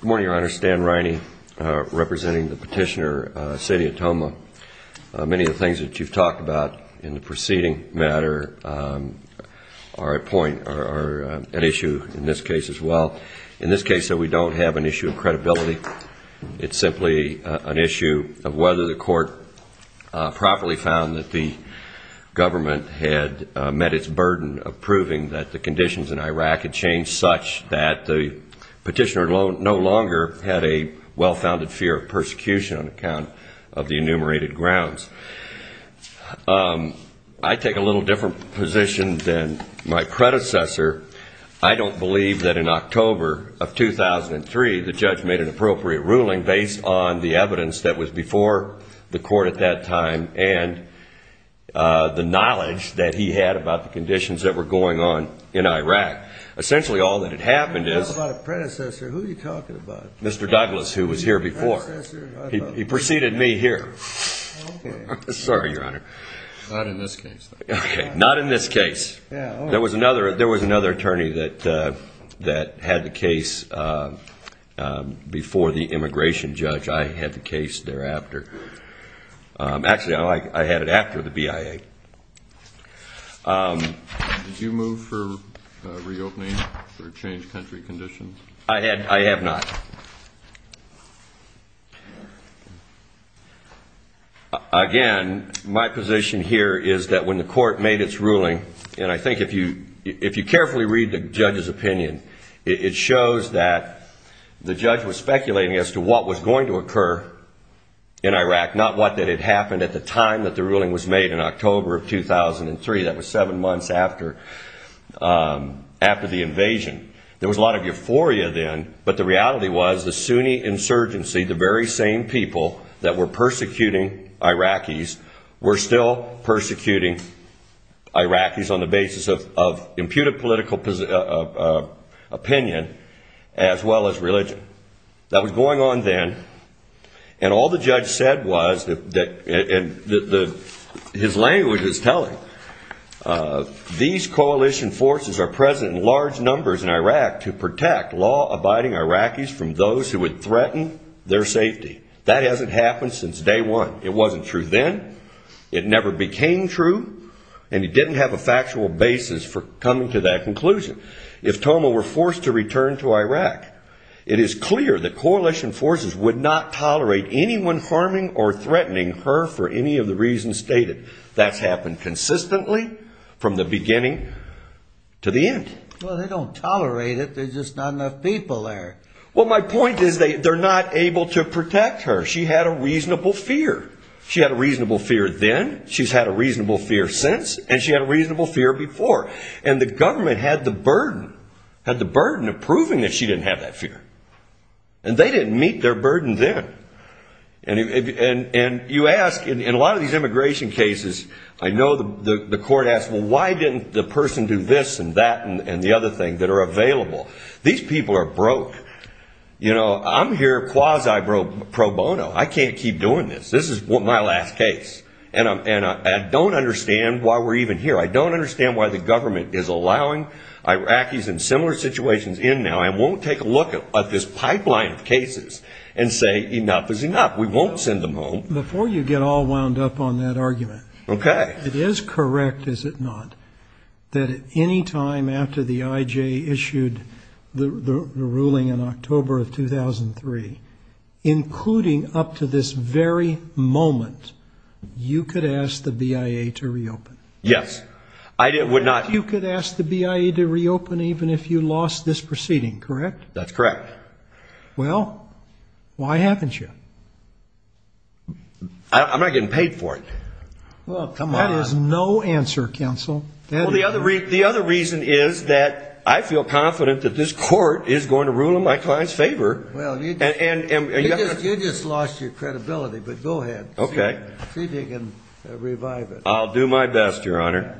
Good morning, Your Honor. Stan Riney, representing the Petitioner, City of Toma. Many of the things that you've talked about in the preceding matter are at point or an issue in this case as well. In this case, though, we don't have an issue of credibility. It's simply an issue of whether the court properly found that the government had met its burden of proving that the conditions in Iraq had changed such that the petitioner no longer had a well-founded fear of persecution on account of the enumerated grounds. I take a little different position than my predecessor. I don't believe that in October of 2003 the judge made an appropriate ruling based on the evidence that was before the court at that time and the knowledge that he had about the conditions that were going on in Iraq. Essentially, all that had happened is... How about a predecessor? Who are you talking about? Mr. Douglas, who was here before. He preceded me here. Okay. Sorry, Your Honor. Not in this case. Okay. Not in this case. There was another attorney that had the case before the immigration judge. I had the case thereafter. Actually, I had it after the BIA. Did you move for reopening or change country conditions? I have not. Again, my position here is that when the court made its ruling, and I think if you carefully read the judge's opinion, it shows that the judge was speculating as to what was going to occur in Iraq, not what had happened at the time that the ruling was made in October of 2003. That was seven months after the invasion. There was a lot of euphoria then, but the reality was the Sunni insurgency, the very same people that were persecuting Iraqis, were still persecuting Iraqis on the basis of imputed political opinion as well as religion. That was going on then, and all the judge said was, and his language is telling, these coalition forces are present in large numbers in Iraq to protect law-abiding Iraqis from those who would threaten their safety. That hasn't happened since day one. It wasn't true then. It never became true, and he didn't have a factual basis for coming to that conclusion. If Thoma were forced to return to Iraq, it is clear that coalition forces would not tolerate anyone harming or threatening her for any of the reasons stated. That's happened consistently from the beginning to the end. Well, they don't tolerate it. There's just not enough people there. Well, my point is they're not able to protect her. She had a reasonable fear. She had a reasonable fear then. She's had a reasonable fear since, and she had a reasonable fear before, and the government had the burden of proving that she didn't have that fear, and they didn't meet their burden then. And you ask, in a lot of these immigration cases, I know the court asks, well, why didn't the person do this and that and the other thing that are available? These people are broke. I'm here quasi pro bono. I can't keep doing this. This is my last case, and I don't understand why we're even here. I don't understand why the government is allowing Iraqis in similar situations in now and won't take a look at this pipeline of cases and say enough is enough. We won't send them home. Before you get all wound up on that argument, it is correct, is it not, that at any time after the IJ issued the ruling in October of 2003, including up to this very moment, you could ask the BIA to reopen? Yes. I would not. You could ask the BIA to reopen even if you lost this proceeding, correct? That's correct. Well, why haven't you? I'm not getting paid for it. Well, come on. That is no answer, counsel. Well, the other reason is that I feel confident that this court is going to rule in my client's favor. Well, you just lost your credibility, but go ahead. Okay. See if you can revive it. I'll do my best, Your Honor.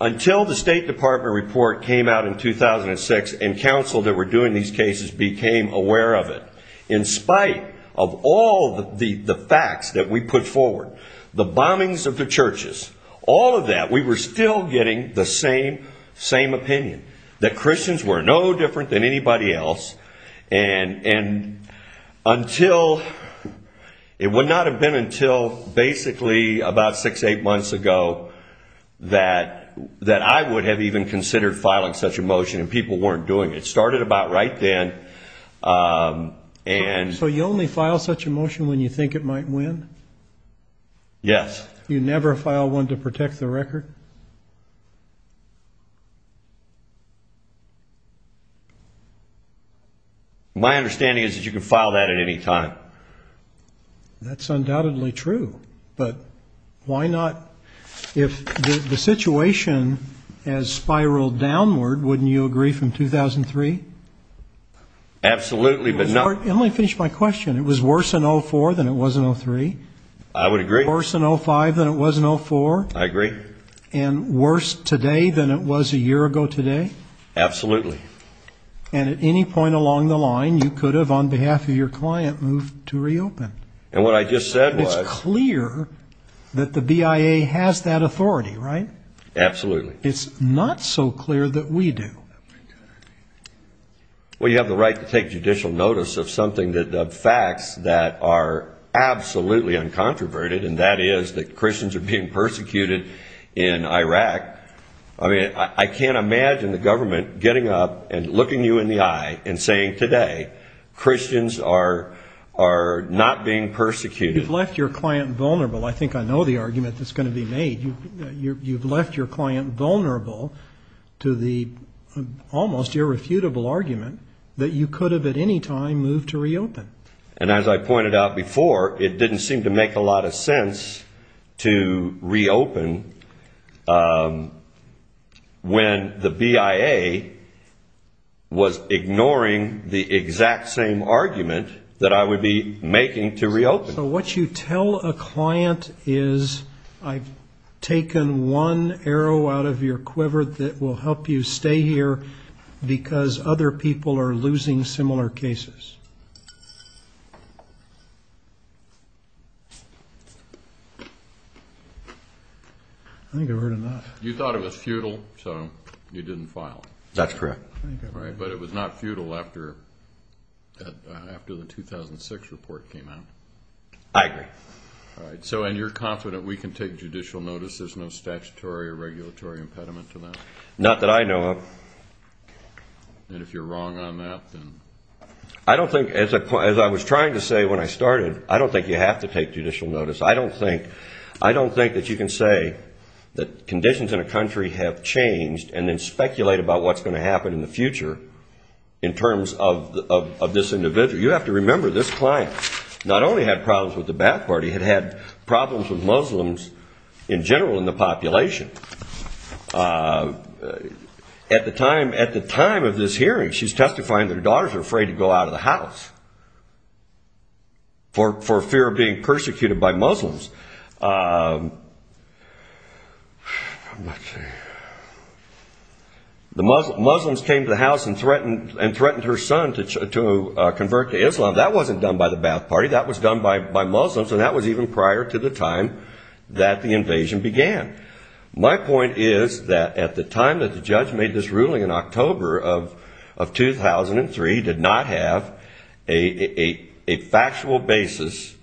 Until the State Department report came out in 2006 and counsel that were doing these cases became aware of it, in spite of all the facts that we put forward, the bombings of the churches, all of that, we were still getting the same opinion, that Christians were no different than anybody else, and it would not have been until basically about six, eight months ago that I would have even considered filing such a motion, and people weren't doing it. It started about right then. So you only file such a motion when you think it might win? Yes. You never file one to protect the record? My understanding is that you can file that at any time. That's undoubtedly true, but why not? If the situation has spiraled downward, wouldn't you agree from 2003? Absolutely. Let me finish my question. It was worse in 2004 than it was in 2003? I would agree. Worse in 2005 than it was in 2004? I agree. And worse today than it was a year ago today? Absolutely. And at any point along the line you could have, on behalf of your client, moved to reopen? It's clear that the BIA has that authority, right? Absolutely. It's not so clear that we do. Well, you have the right to take judicial notice of facts that are absolutely uncontroverted, and that is that Christians are being persecuted in Iraq. I can't imagine the government getting up and looking you in the eye and saying, Christians are not being persecuted. You've left your client vulnerable. I think I know the argument that's going to be made. You've left your client vulnerable to the almost irrefutable argument that you could have at any time moved to reopen. And as I pointed out before, it didn't seem to make a lot of sense to reopen when the BIA was ignoring the exact same argument that I would be making to reopen. So what you tell a client is, I've taken one arrow out of your quiver that will help you stay here because other people are losing similar cases. I think I've heard enough. You thought it was futile, so you didn't file. That's correct. But it was not futile after the 2006 report came out. I agree. And you're confident we can take judicial notice? There's no statutory or regulatory impediment to that? Not that I know of. And if you're wrong on that, then? I don't think, as I was trying to say when I started, I don't think you have to take judicial notice. I don't think that you can say that conditions in a country have changed and then speculate about what's going to happen in the future in terms of this individual. You have to remember this client not only had problems with the back party, had had problems with Muslims in general in the population. At the time of this hearing, she's testifying that her daughters are afraid to go out of the house for fear of being persecuted by Muslims. The Muslims came to the house and threatened her son to convert to Islam. That wasn't done by the back party. That was done by Muslims, and that was even prior to the time that the invasion began. My point is that at the time that the judge made this ruling in October of 2003, did not have a factual basis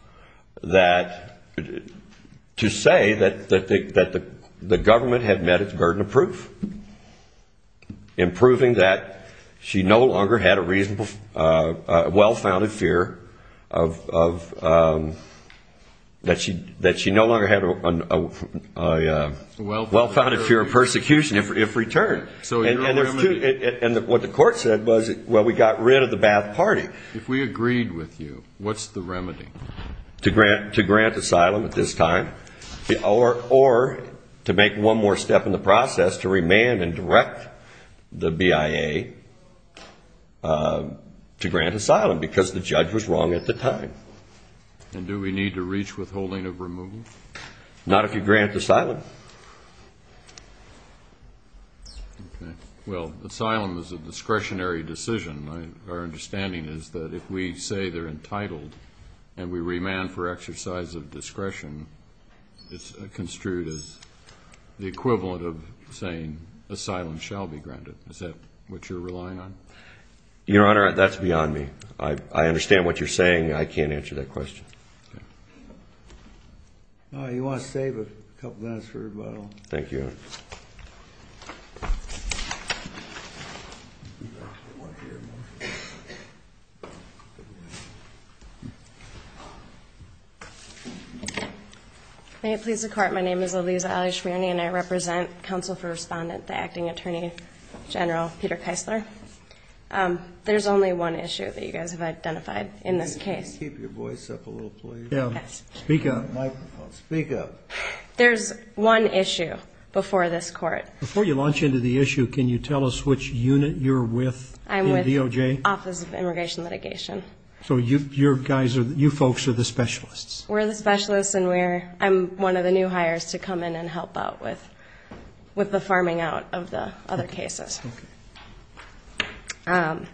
to say that the government had met its burden of proof. In proving that she no longer had a well-founded fear of persecution if returned. And what the court said was, well, we got rid of the back party. If we agreed with you, what's the remedy? To grant asylum at this time, or to make one more step in the process to remand and direct the BIA to grant asylum because the judge was wrong at the time. And do we need to reach withholding of removal? Not if you grant asylum. Well, asylum is a discretionary decision. Our understanding is that if we say they're entitled and we remand for exercise of discretion, it's construed as the equivalent of saying asylum shall be granted. Is that what you're relying on? Your Honor, that's beyond me. I understand what you're saying. I can't answer that question. You want to save a couple minutes for rebuttal? Thank you. Thank you. May it please the court, my name is Aliza Ali-Shmierny and I represent counsel for respondent, the acting attorney general, Peter Keisler. There's only one issue that you guys have identified in this case. Keep your voice up a little, please. Speak up. There's one issue before this court. Before you launch into the issue, can you tell us which unit you're with in DOJ? I'm with Office of Immigration Litigation. So you folks are the specialists? We're the specialists and I'm one of the new hires to come in and help out with the farming out of the other cases. The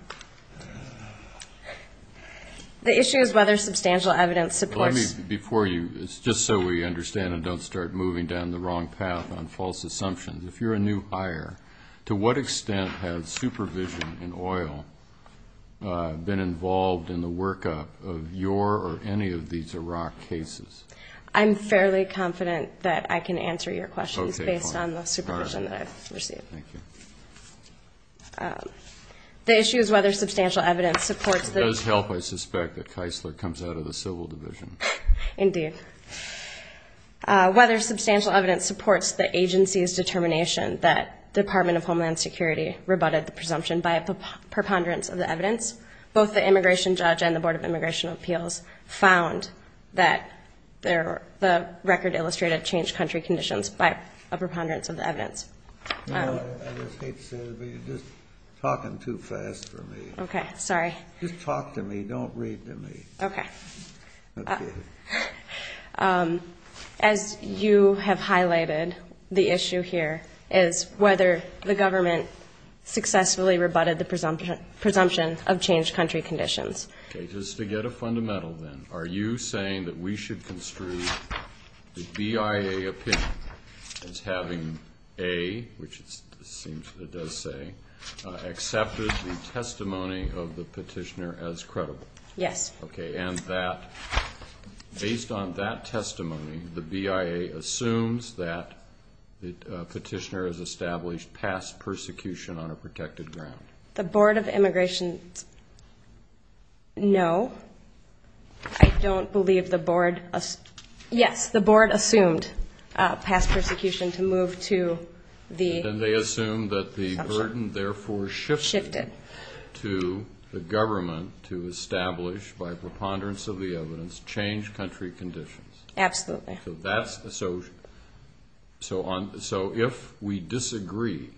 issue is whether substantial evidence supports the claim. Just so we understand and don't start moving down the wrong path on false assumptions, if you're a new hire, to what extent has supervision in oil been involved in the workup of your or any of these Iraq cases? I'm fairly confident that I can answer your questions based on the supervision that I've received. Thank you. The issue is whether substantial evidence supports the claim. Myself, I suspect that Keisler comes out of the civil division. Indeed. Whether substantial evidence supports the agency's determination that Department of Homeland Security rebutted the presumption by a preponderance of the evidence, both the immigration judge and the Board of Immigration Appeals found that the record illustrated changed country conditions by a preponderance of the evidence. I just hate to say this, but you're just talking too fast for me. Okay, sorry. Just talk to me. Don't read to me. Okay. As you have highlighted, the issue here is whether the government successfully rebutted the presumption of changed country conditions. Okay, just to get a fundamental then, are you saying that we should construe the BIA opinion as having A, which it does say, accepted the testimony of the petitioner as credible? Yes. Okay, and that, based on that testimony, the BIA assumes that the petitioner has established past persecution on a protected ground. The Board of Immigration, no. I don't believe the Board, yes, the Board assumed past persecution to move to the assumption. And they assume that the burden therefore shifted to the government to establish, by preponderance of the evidence, changed country conditions. Absolutely. So if we disagree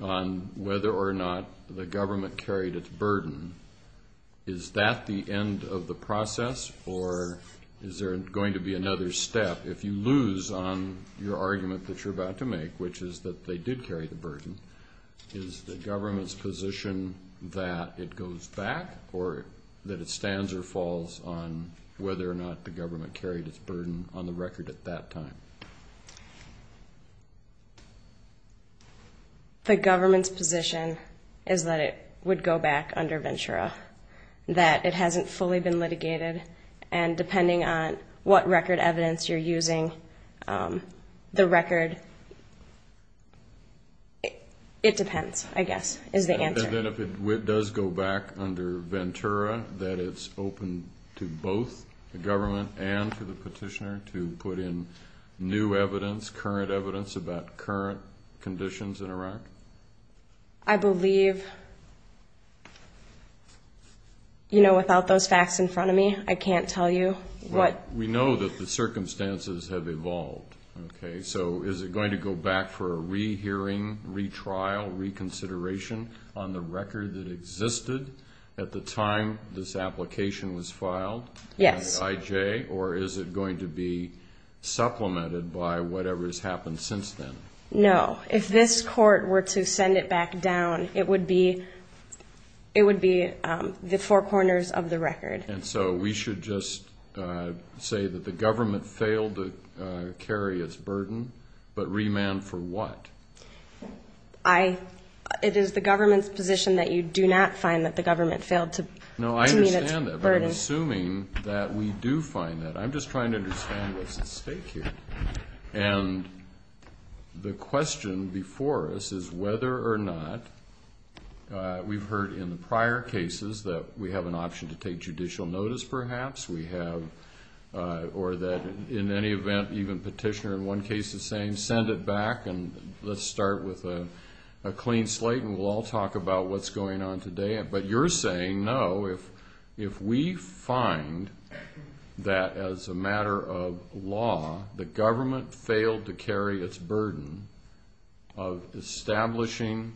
on whether or not the government carried its burden, is that the end of the process, or is there going to be another step? If you lose on your argument that you're about to make, which is that they did carry the burden, is the government's position that it goes back or that it stands or falls on whether or not the government carried its burden on the record at that time? The government's position is that it would go back under Ventura, that it hasn't fully been litigated, and depending on what record evidence you're using, the record, it depends, I guess, is the answer. And then if it does go back under Ventura, that it's open to both the government and to the petitioner to put in new evidence, current evidence about current conditions in Iraq? I believe, you know, without those facts in front of me, I can't tell you what. Well, we know that the circumstances have evolved, okay? So is it going to go back for a rehearing, retrial, reconsideration on the record that existed at the time this application was filed? Yes. IJ, or is it going to be supplemented by whatever has happened since then? No. If this court were to send it back down, it would be the four corners of the record. And so we should just say that the government failed to carry its burden, but remand for what? It is the government's position that you do not find that the government failed to meet its burden. No, I understand that, but I'm assuming that we do find that. I'm just trying to understand what's at stake here. And the question before us is whether or not we've heard in the prior cases that we have an option to take judicial notice perhaps, we have, or that in any event even petitioner in one case is saying send it back and let's start with a clean slate and we'll all talk about what's going on today. But you're saying, no, if we find that as a matter of law the government failed to carry its burden of establishing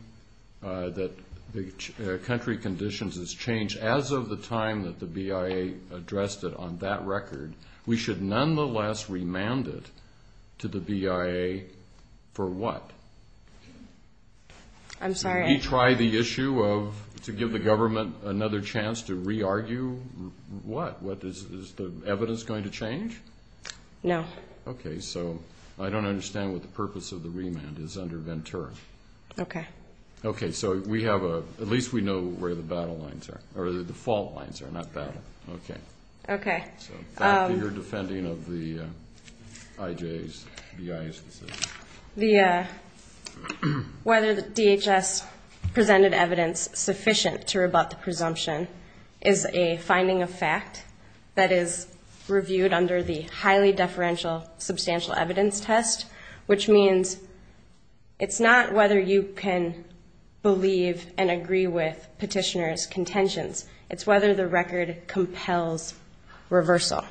that the country conditions has changed as of the time that the BIA addressed it on that record, we should nonetheless remand it to the BIA for what? I'm sorry. Did he try the issue of to give the government another chance to re-argue what? Is the evidence going to change? No. Okay. So I don't understand what the purpose of the remand is under Ventura. Okay. Okay. So we have a, at least we know where the battle lines are, or the fault lines are, not battle. Okay. Okay. So thank you. You're defending of the IJ's, BIA's decision. The, whether DHS presented evidence sufficient to rebut the presumption is a finding of fact that is reviewed under the highly deferential substantial evidence test, which means it's not whether you can believe and agree with petitioner's contentions. It's whether the record compels reversal.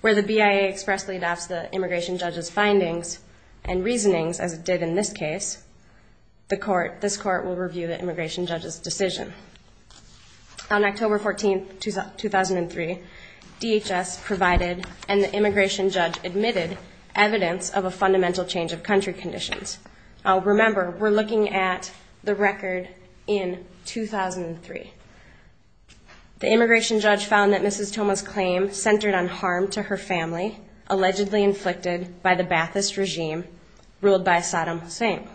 Where the BIA expressly adopts the immigration judge's findings and reasonings as it did in this case, the court, this court will review the immigration judge's decision. On October 14th, 2003, DHS provided and the immigration judge admitted evidence of a fundamental change of country conditions. Now remember, we're looking at the record in 2003. The immigration judge found that Mrs. Toma's claim centered on harm to her family, allegedly inflicted by the Ba'athist regime ruled by Saddam Hussein.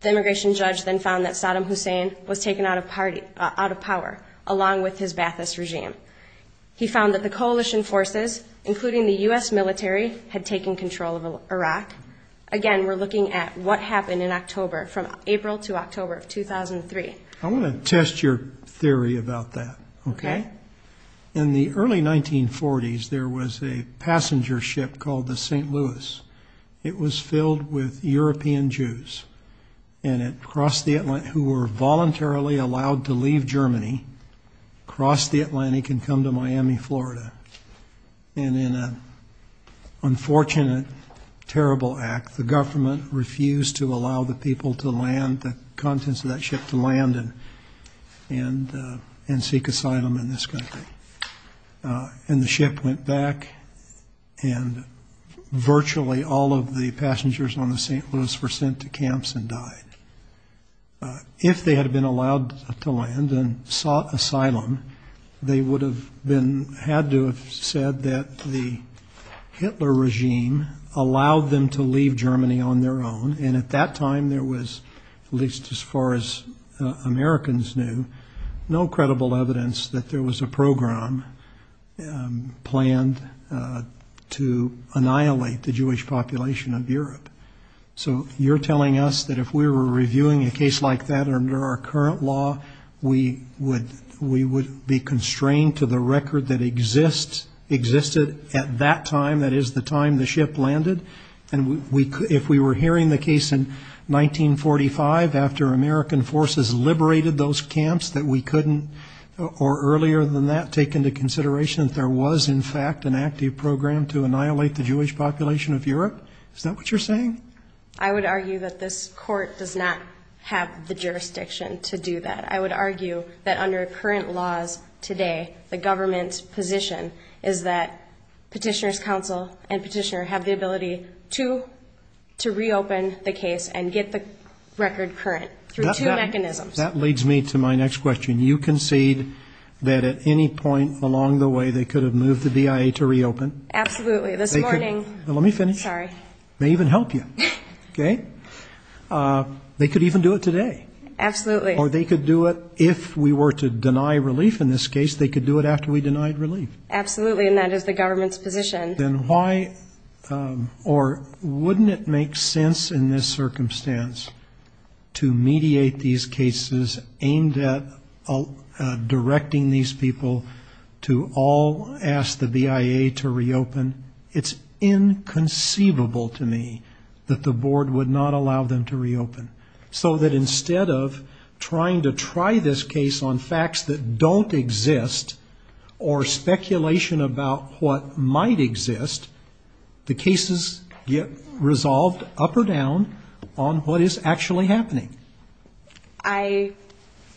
The immigration judge then found that Saddam Hussein was taken out of party, out of power, along with his Ba'athist regime. He found that the coalition forces, including the U.S. military, had taken control of Iraq. Again, we're looking at what happened in October, from April to October of 2003. I want to test your theory about that. Okay. In the early 1940s, there was a passenger ship called the St. Louis. It was filled with European Jews, and it crossed the Atlantic, who were voluntarily allowed to leave Germany, cross the Atlantic and come to Miami, Florida. And in an unfortunate, terrible act, the government refused to allow the people to land, the contents of that ship to land and seek asylum in this country. And the ship went back, and virtually all of the passengers on the St. Louis were sent to camps and died. If they had been allowed to land and sought asylum, they would have been had to have said that the Hitler regime allowed them to leave Germany on their own. And at that time, there was, at least as far as Americans knew, no credible evidence that there was a program planned to annihilate the Jewish population of Europe. So you're telling us that if we were reviewing a case like that under our current law, we would be constrained to the record that existed at that time, that is, the time the ship landed? And if we were hearing the case in 1945, after American forces liberated those camps, that we couldn't, or earlier than that, take into consideration that there was, in fact, an active program to annihilate the Jewish population of Europe? Is that what you're saying? I would argue that this court does not have the jurisdiction to do that. I would argue that under current laws today, the government's position is that petitioner's counsel and petitioner have the ability to reopen the case and get the record current through two mechanisms. That leads me to my next question. You concede that at any point along the way, they could have moved the BIA to reopen? Absolutely. This morning. Let me finish. Sorry. May even help you. Okay? They could even do it today. Absolutely. Or they could do it if we were to deny relief in this case. They could do it after we denied relief. Absolutely, and that is the government's position. Or wouldn't it make sense in this circumstance to mediate these cases aimed at directing these people to all ask the BIA to reopen? It's inconceivable to me that the board would not allow them to reopen. So that instead of trying to try this case on facts that don't exist or speculation about what might exist, the cases get resolved up or down on what is actually happening. I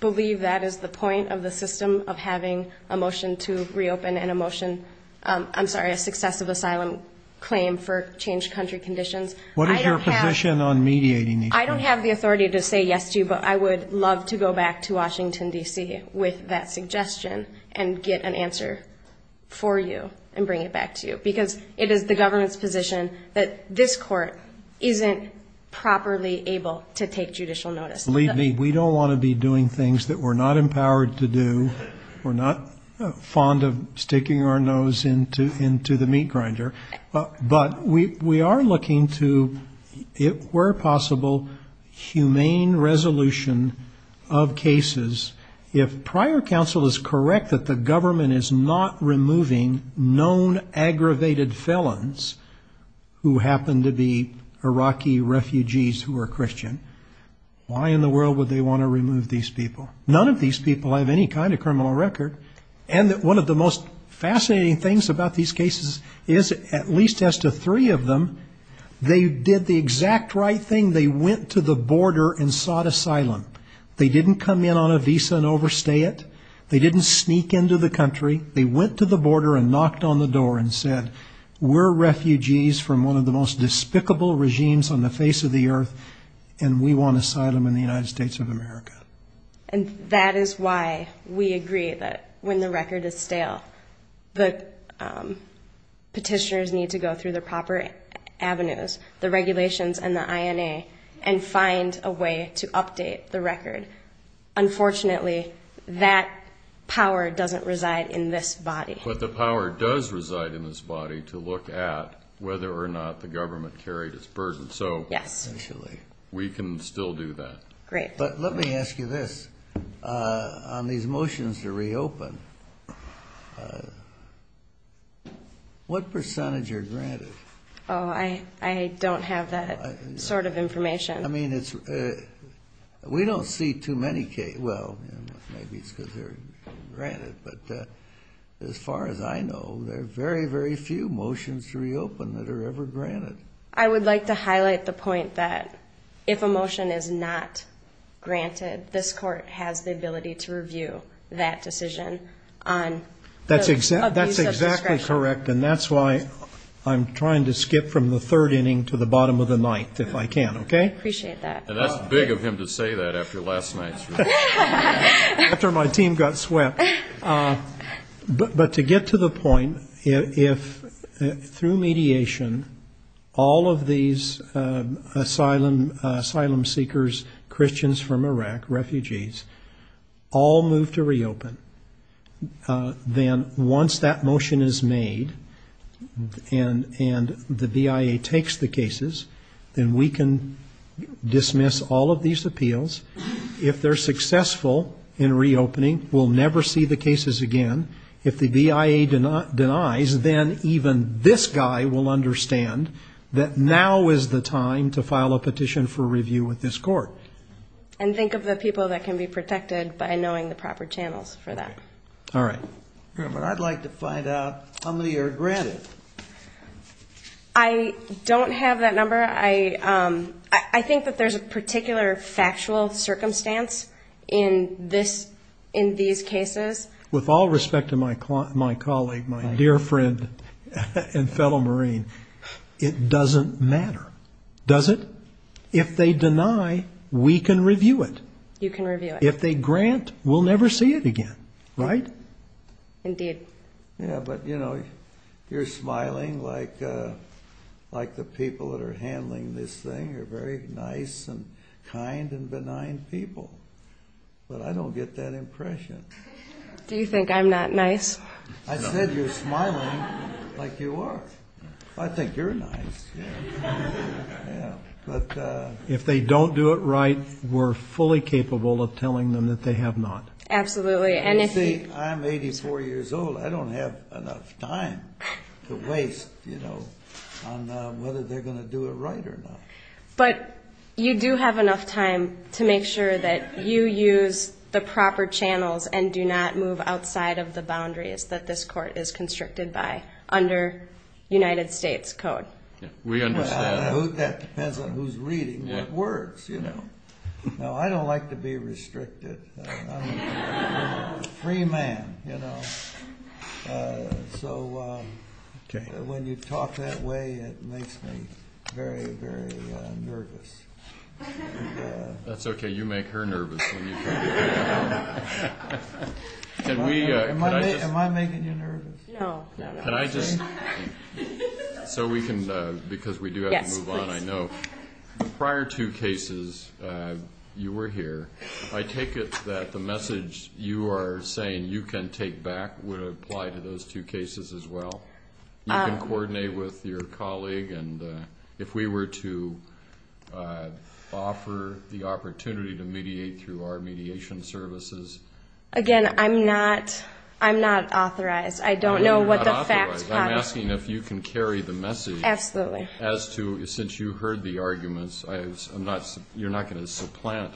believe that is the point of the system of having a motion to reopen and a motion, I'm sorry, a successive asylum claim for changed country conditions. What is your position on mediating these cases? I don't have the authority to say yes to you, but I would love to go back to Washington, D.C. with that suggestion and get an answer for you and bring it back to you. Because it is the government's position that this court isn't properly able to take judicial notice. Believe me, we don't want to be doing things that we're not empowered to do. We're not fond of sticking our nose into the meat grinder. But we are looking to, if it were possible, humane resolution of cases. If prior counsel is correct that the government is not removing known aggravated felons who happen to be Iraqi refugees who are Christian, why in the world would they want to remove these people? None of these people have any kind of criminal record. And one of the most fascinating things about these cases is, at least as to three of them, they did the exact right thing. They went to the border and sought asylum. They didn't come in on a visa and overstay it. They didn't sneak into the country. They went to the border and knocked on the door and said, we're refugees from one of the most despicable regimes on the face of the earth, and we want asylum in the United States of America. And that is why we agree that when the record is stale, the petitioners need to go through the proper avenues, the regulations and the INA, and find a way to update the record. Unfortunately, that power doesn't reside in this body. But the power does reside in this body to look at whether or not the government carried its burden. So we can still do that. Great. But let me ask you this. On these motions to reopen, what percentage are granted? Oh, I don't have that sort of information. I mean, we don't see too many cases. Well, maybe it's because they're granted. But as far as I know, there are very, very few motions to reopen that are ever granted. I would like to highlight the point that if a motion is not granted, this court has the ability to review that decision on abuse of discretion. That's exactly correct, and that's why I'm trying to skip from the third inning to the bottom of the ninth if I can, okay? Appreciate that. And that's big of him to say that after last night's review. After my team got swept. But to get to the point, if through mediation all of these asylum seekers, Christians from Iraq, refugees, all move to reopen, then once that motion is made and the BIA takes the cases, then we can dismiss all of these appeals. If they're successful in reopening, we'll never see the cases again. If the BIA denies, then even this guy will understand that now is the time to file a petition for review with this court. And think of the people that can be protected by knowing the proper channels for that. All right. But I'd like to find out how many are granted. I don't have that number. I think that there's a particular factual circumstance in these cases. With all respect to my colleague, my dear friend and fellow Marine, it doesn't matter, does it? If they deny, we can review it. You can review it. If they grant, we'll never see it again, right? Indeed. You're smiling like the people that are handling this thing are very nice and kind and benign people. But I don't get that impression. Do you think I'm not nice? I said you're smiling like you are. I think you're nice. If they don't do it right, we're fully capable of telling them that they have not. Absolutely. You see, I'm 84 years old. I don't have enough time to waste on whether they're going to do it right or not. But you do have enough time to make sure that you use the proper channels and do not move outside of the boundaries that this court is constricted by under United States code. We understand. That depends on who's reading what works. No, I don't like to be restricted. I'm a free man. So when you talk that way, it makes me very, very nervous. That's okay. You make her nervous when you talk that way. Am I making you nervous? No. Because we do have to move on, I know. The prior two cases, you were here. I take it that the message you are saying you can take back would apply to those two cases as well. You can coordinate with your colleague. And if we were to offer the opportunity to mediate through our mediation services. Again, I'm not authorized. I don't know what the facts are. I'm asking if you can carry the message. Absolutely. As to, since you heard the arguments, you're not going to supplant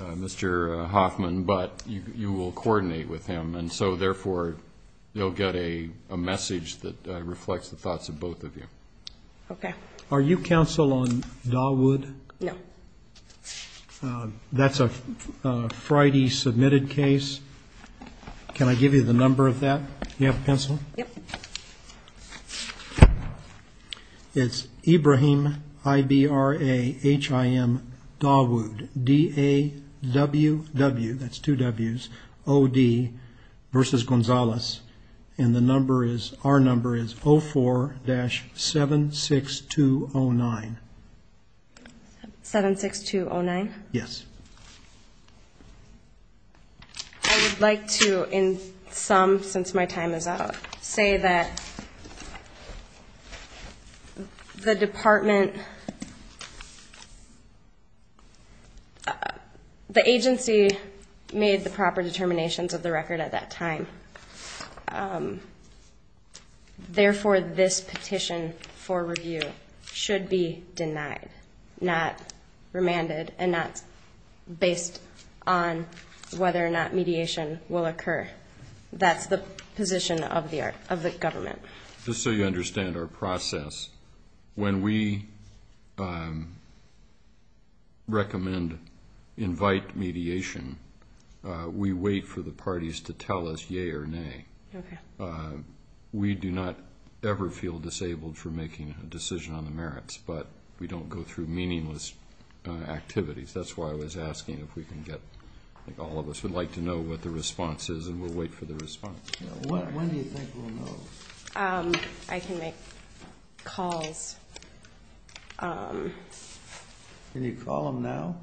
Mr. Hoffman, but you will coordinate with him. And so, therefore, you'll get a message that reflects the thoughts of both of you. Okay. Are you counsel on Dawood? No. That's a Friday submitted case. Can I give you the number of that? Do you have a pencil? Yep. It's Ibrahim, I-B-R-A-H-I-M, Dawood, D-A-W-W, that's two W's, O-D, versus Gonzalez. And the number is, our number is 04-76209. 76209? Yes. I would like to, in sum, since my time is out, say that the department, the agency made the proper determinations of the record at that time. Therefore, this petition for review should be denied, not remanded, and not based on whether or not mediation will occur. That's the position of the government. Just so you understand our process, when we recommend invite mediation, we wait for the parties to tell us yea or nay. We do not ever feel disabled for making a decision on the merits, but we don't go through meaningless activities. That's why I was asking if we can get, I think all of us would like to know what the response is, and we'll wait for the response. When do you think we'll know? I can make calls. Can you call them now?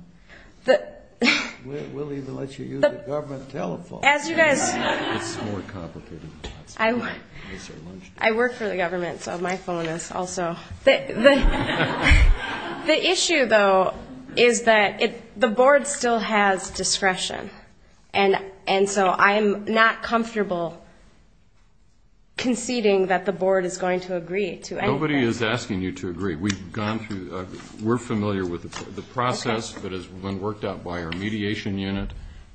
We'll even let you use the government telephone. It's more complicated than that. I work for the government, so my phone is also. The issue, though, is that the board still has discretion, and so I'm not comfortable conceding that the board is going to agree to anything. Nobody is asking you to agree. We're familiar with the process that has been worked out by our mediation unit,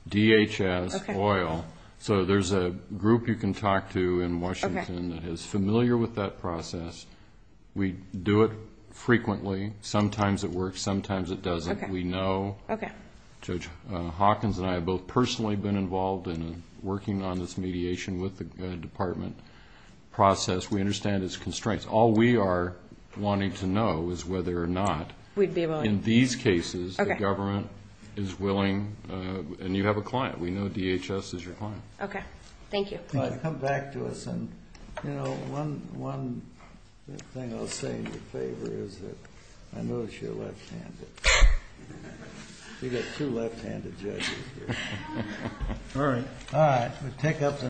DHS, OIL. So there's a group you can talk to in Washington that is familiar with that process. We do it frequently. Sometimes it works, sometimes it doesn't. We know. Judge Hawkins and I have both personally been involved in working on this mediation with the department process. We understand its constraints. All we are wanting to know is whether or not in these cases the government is willing, and you have a client. We know DHS is your client. Okay. Thank you. Come back to us. One thing I'll say in your favor is that I notice you're left-handed. We've got two left-handed judges here. All right.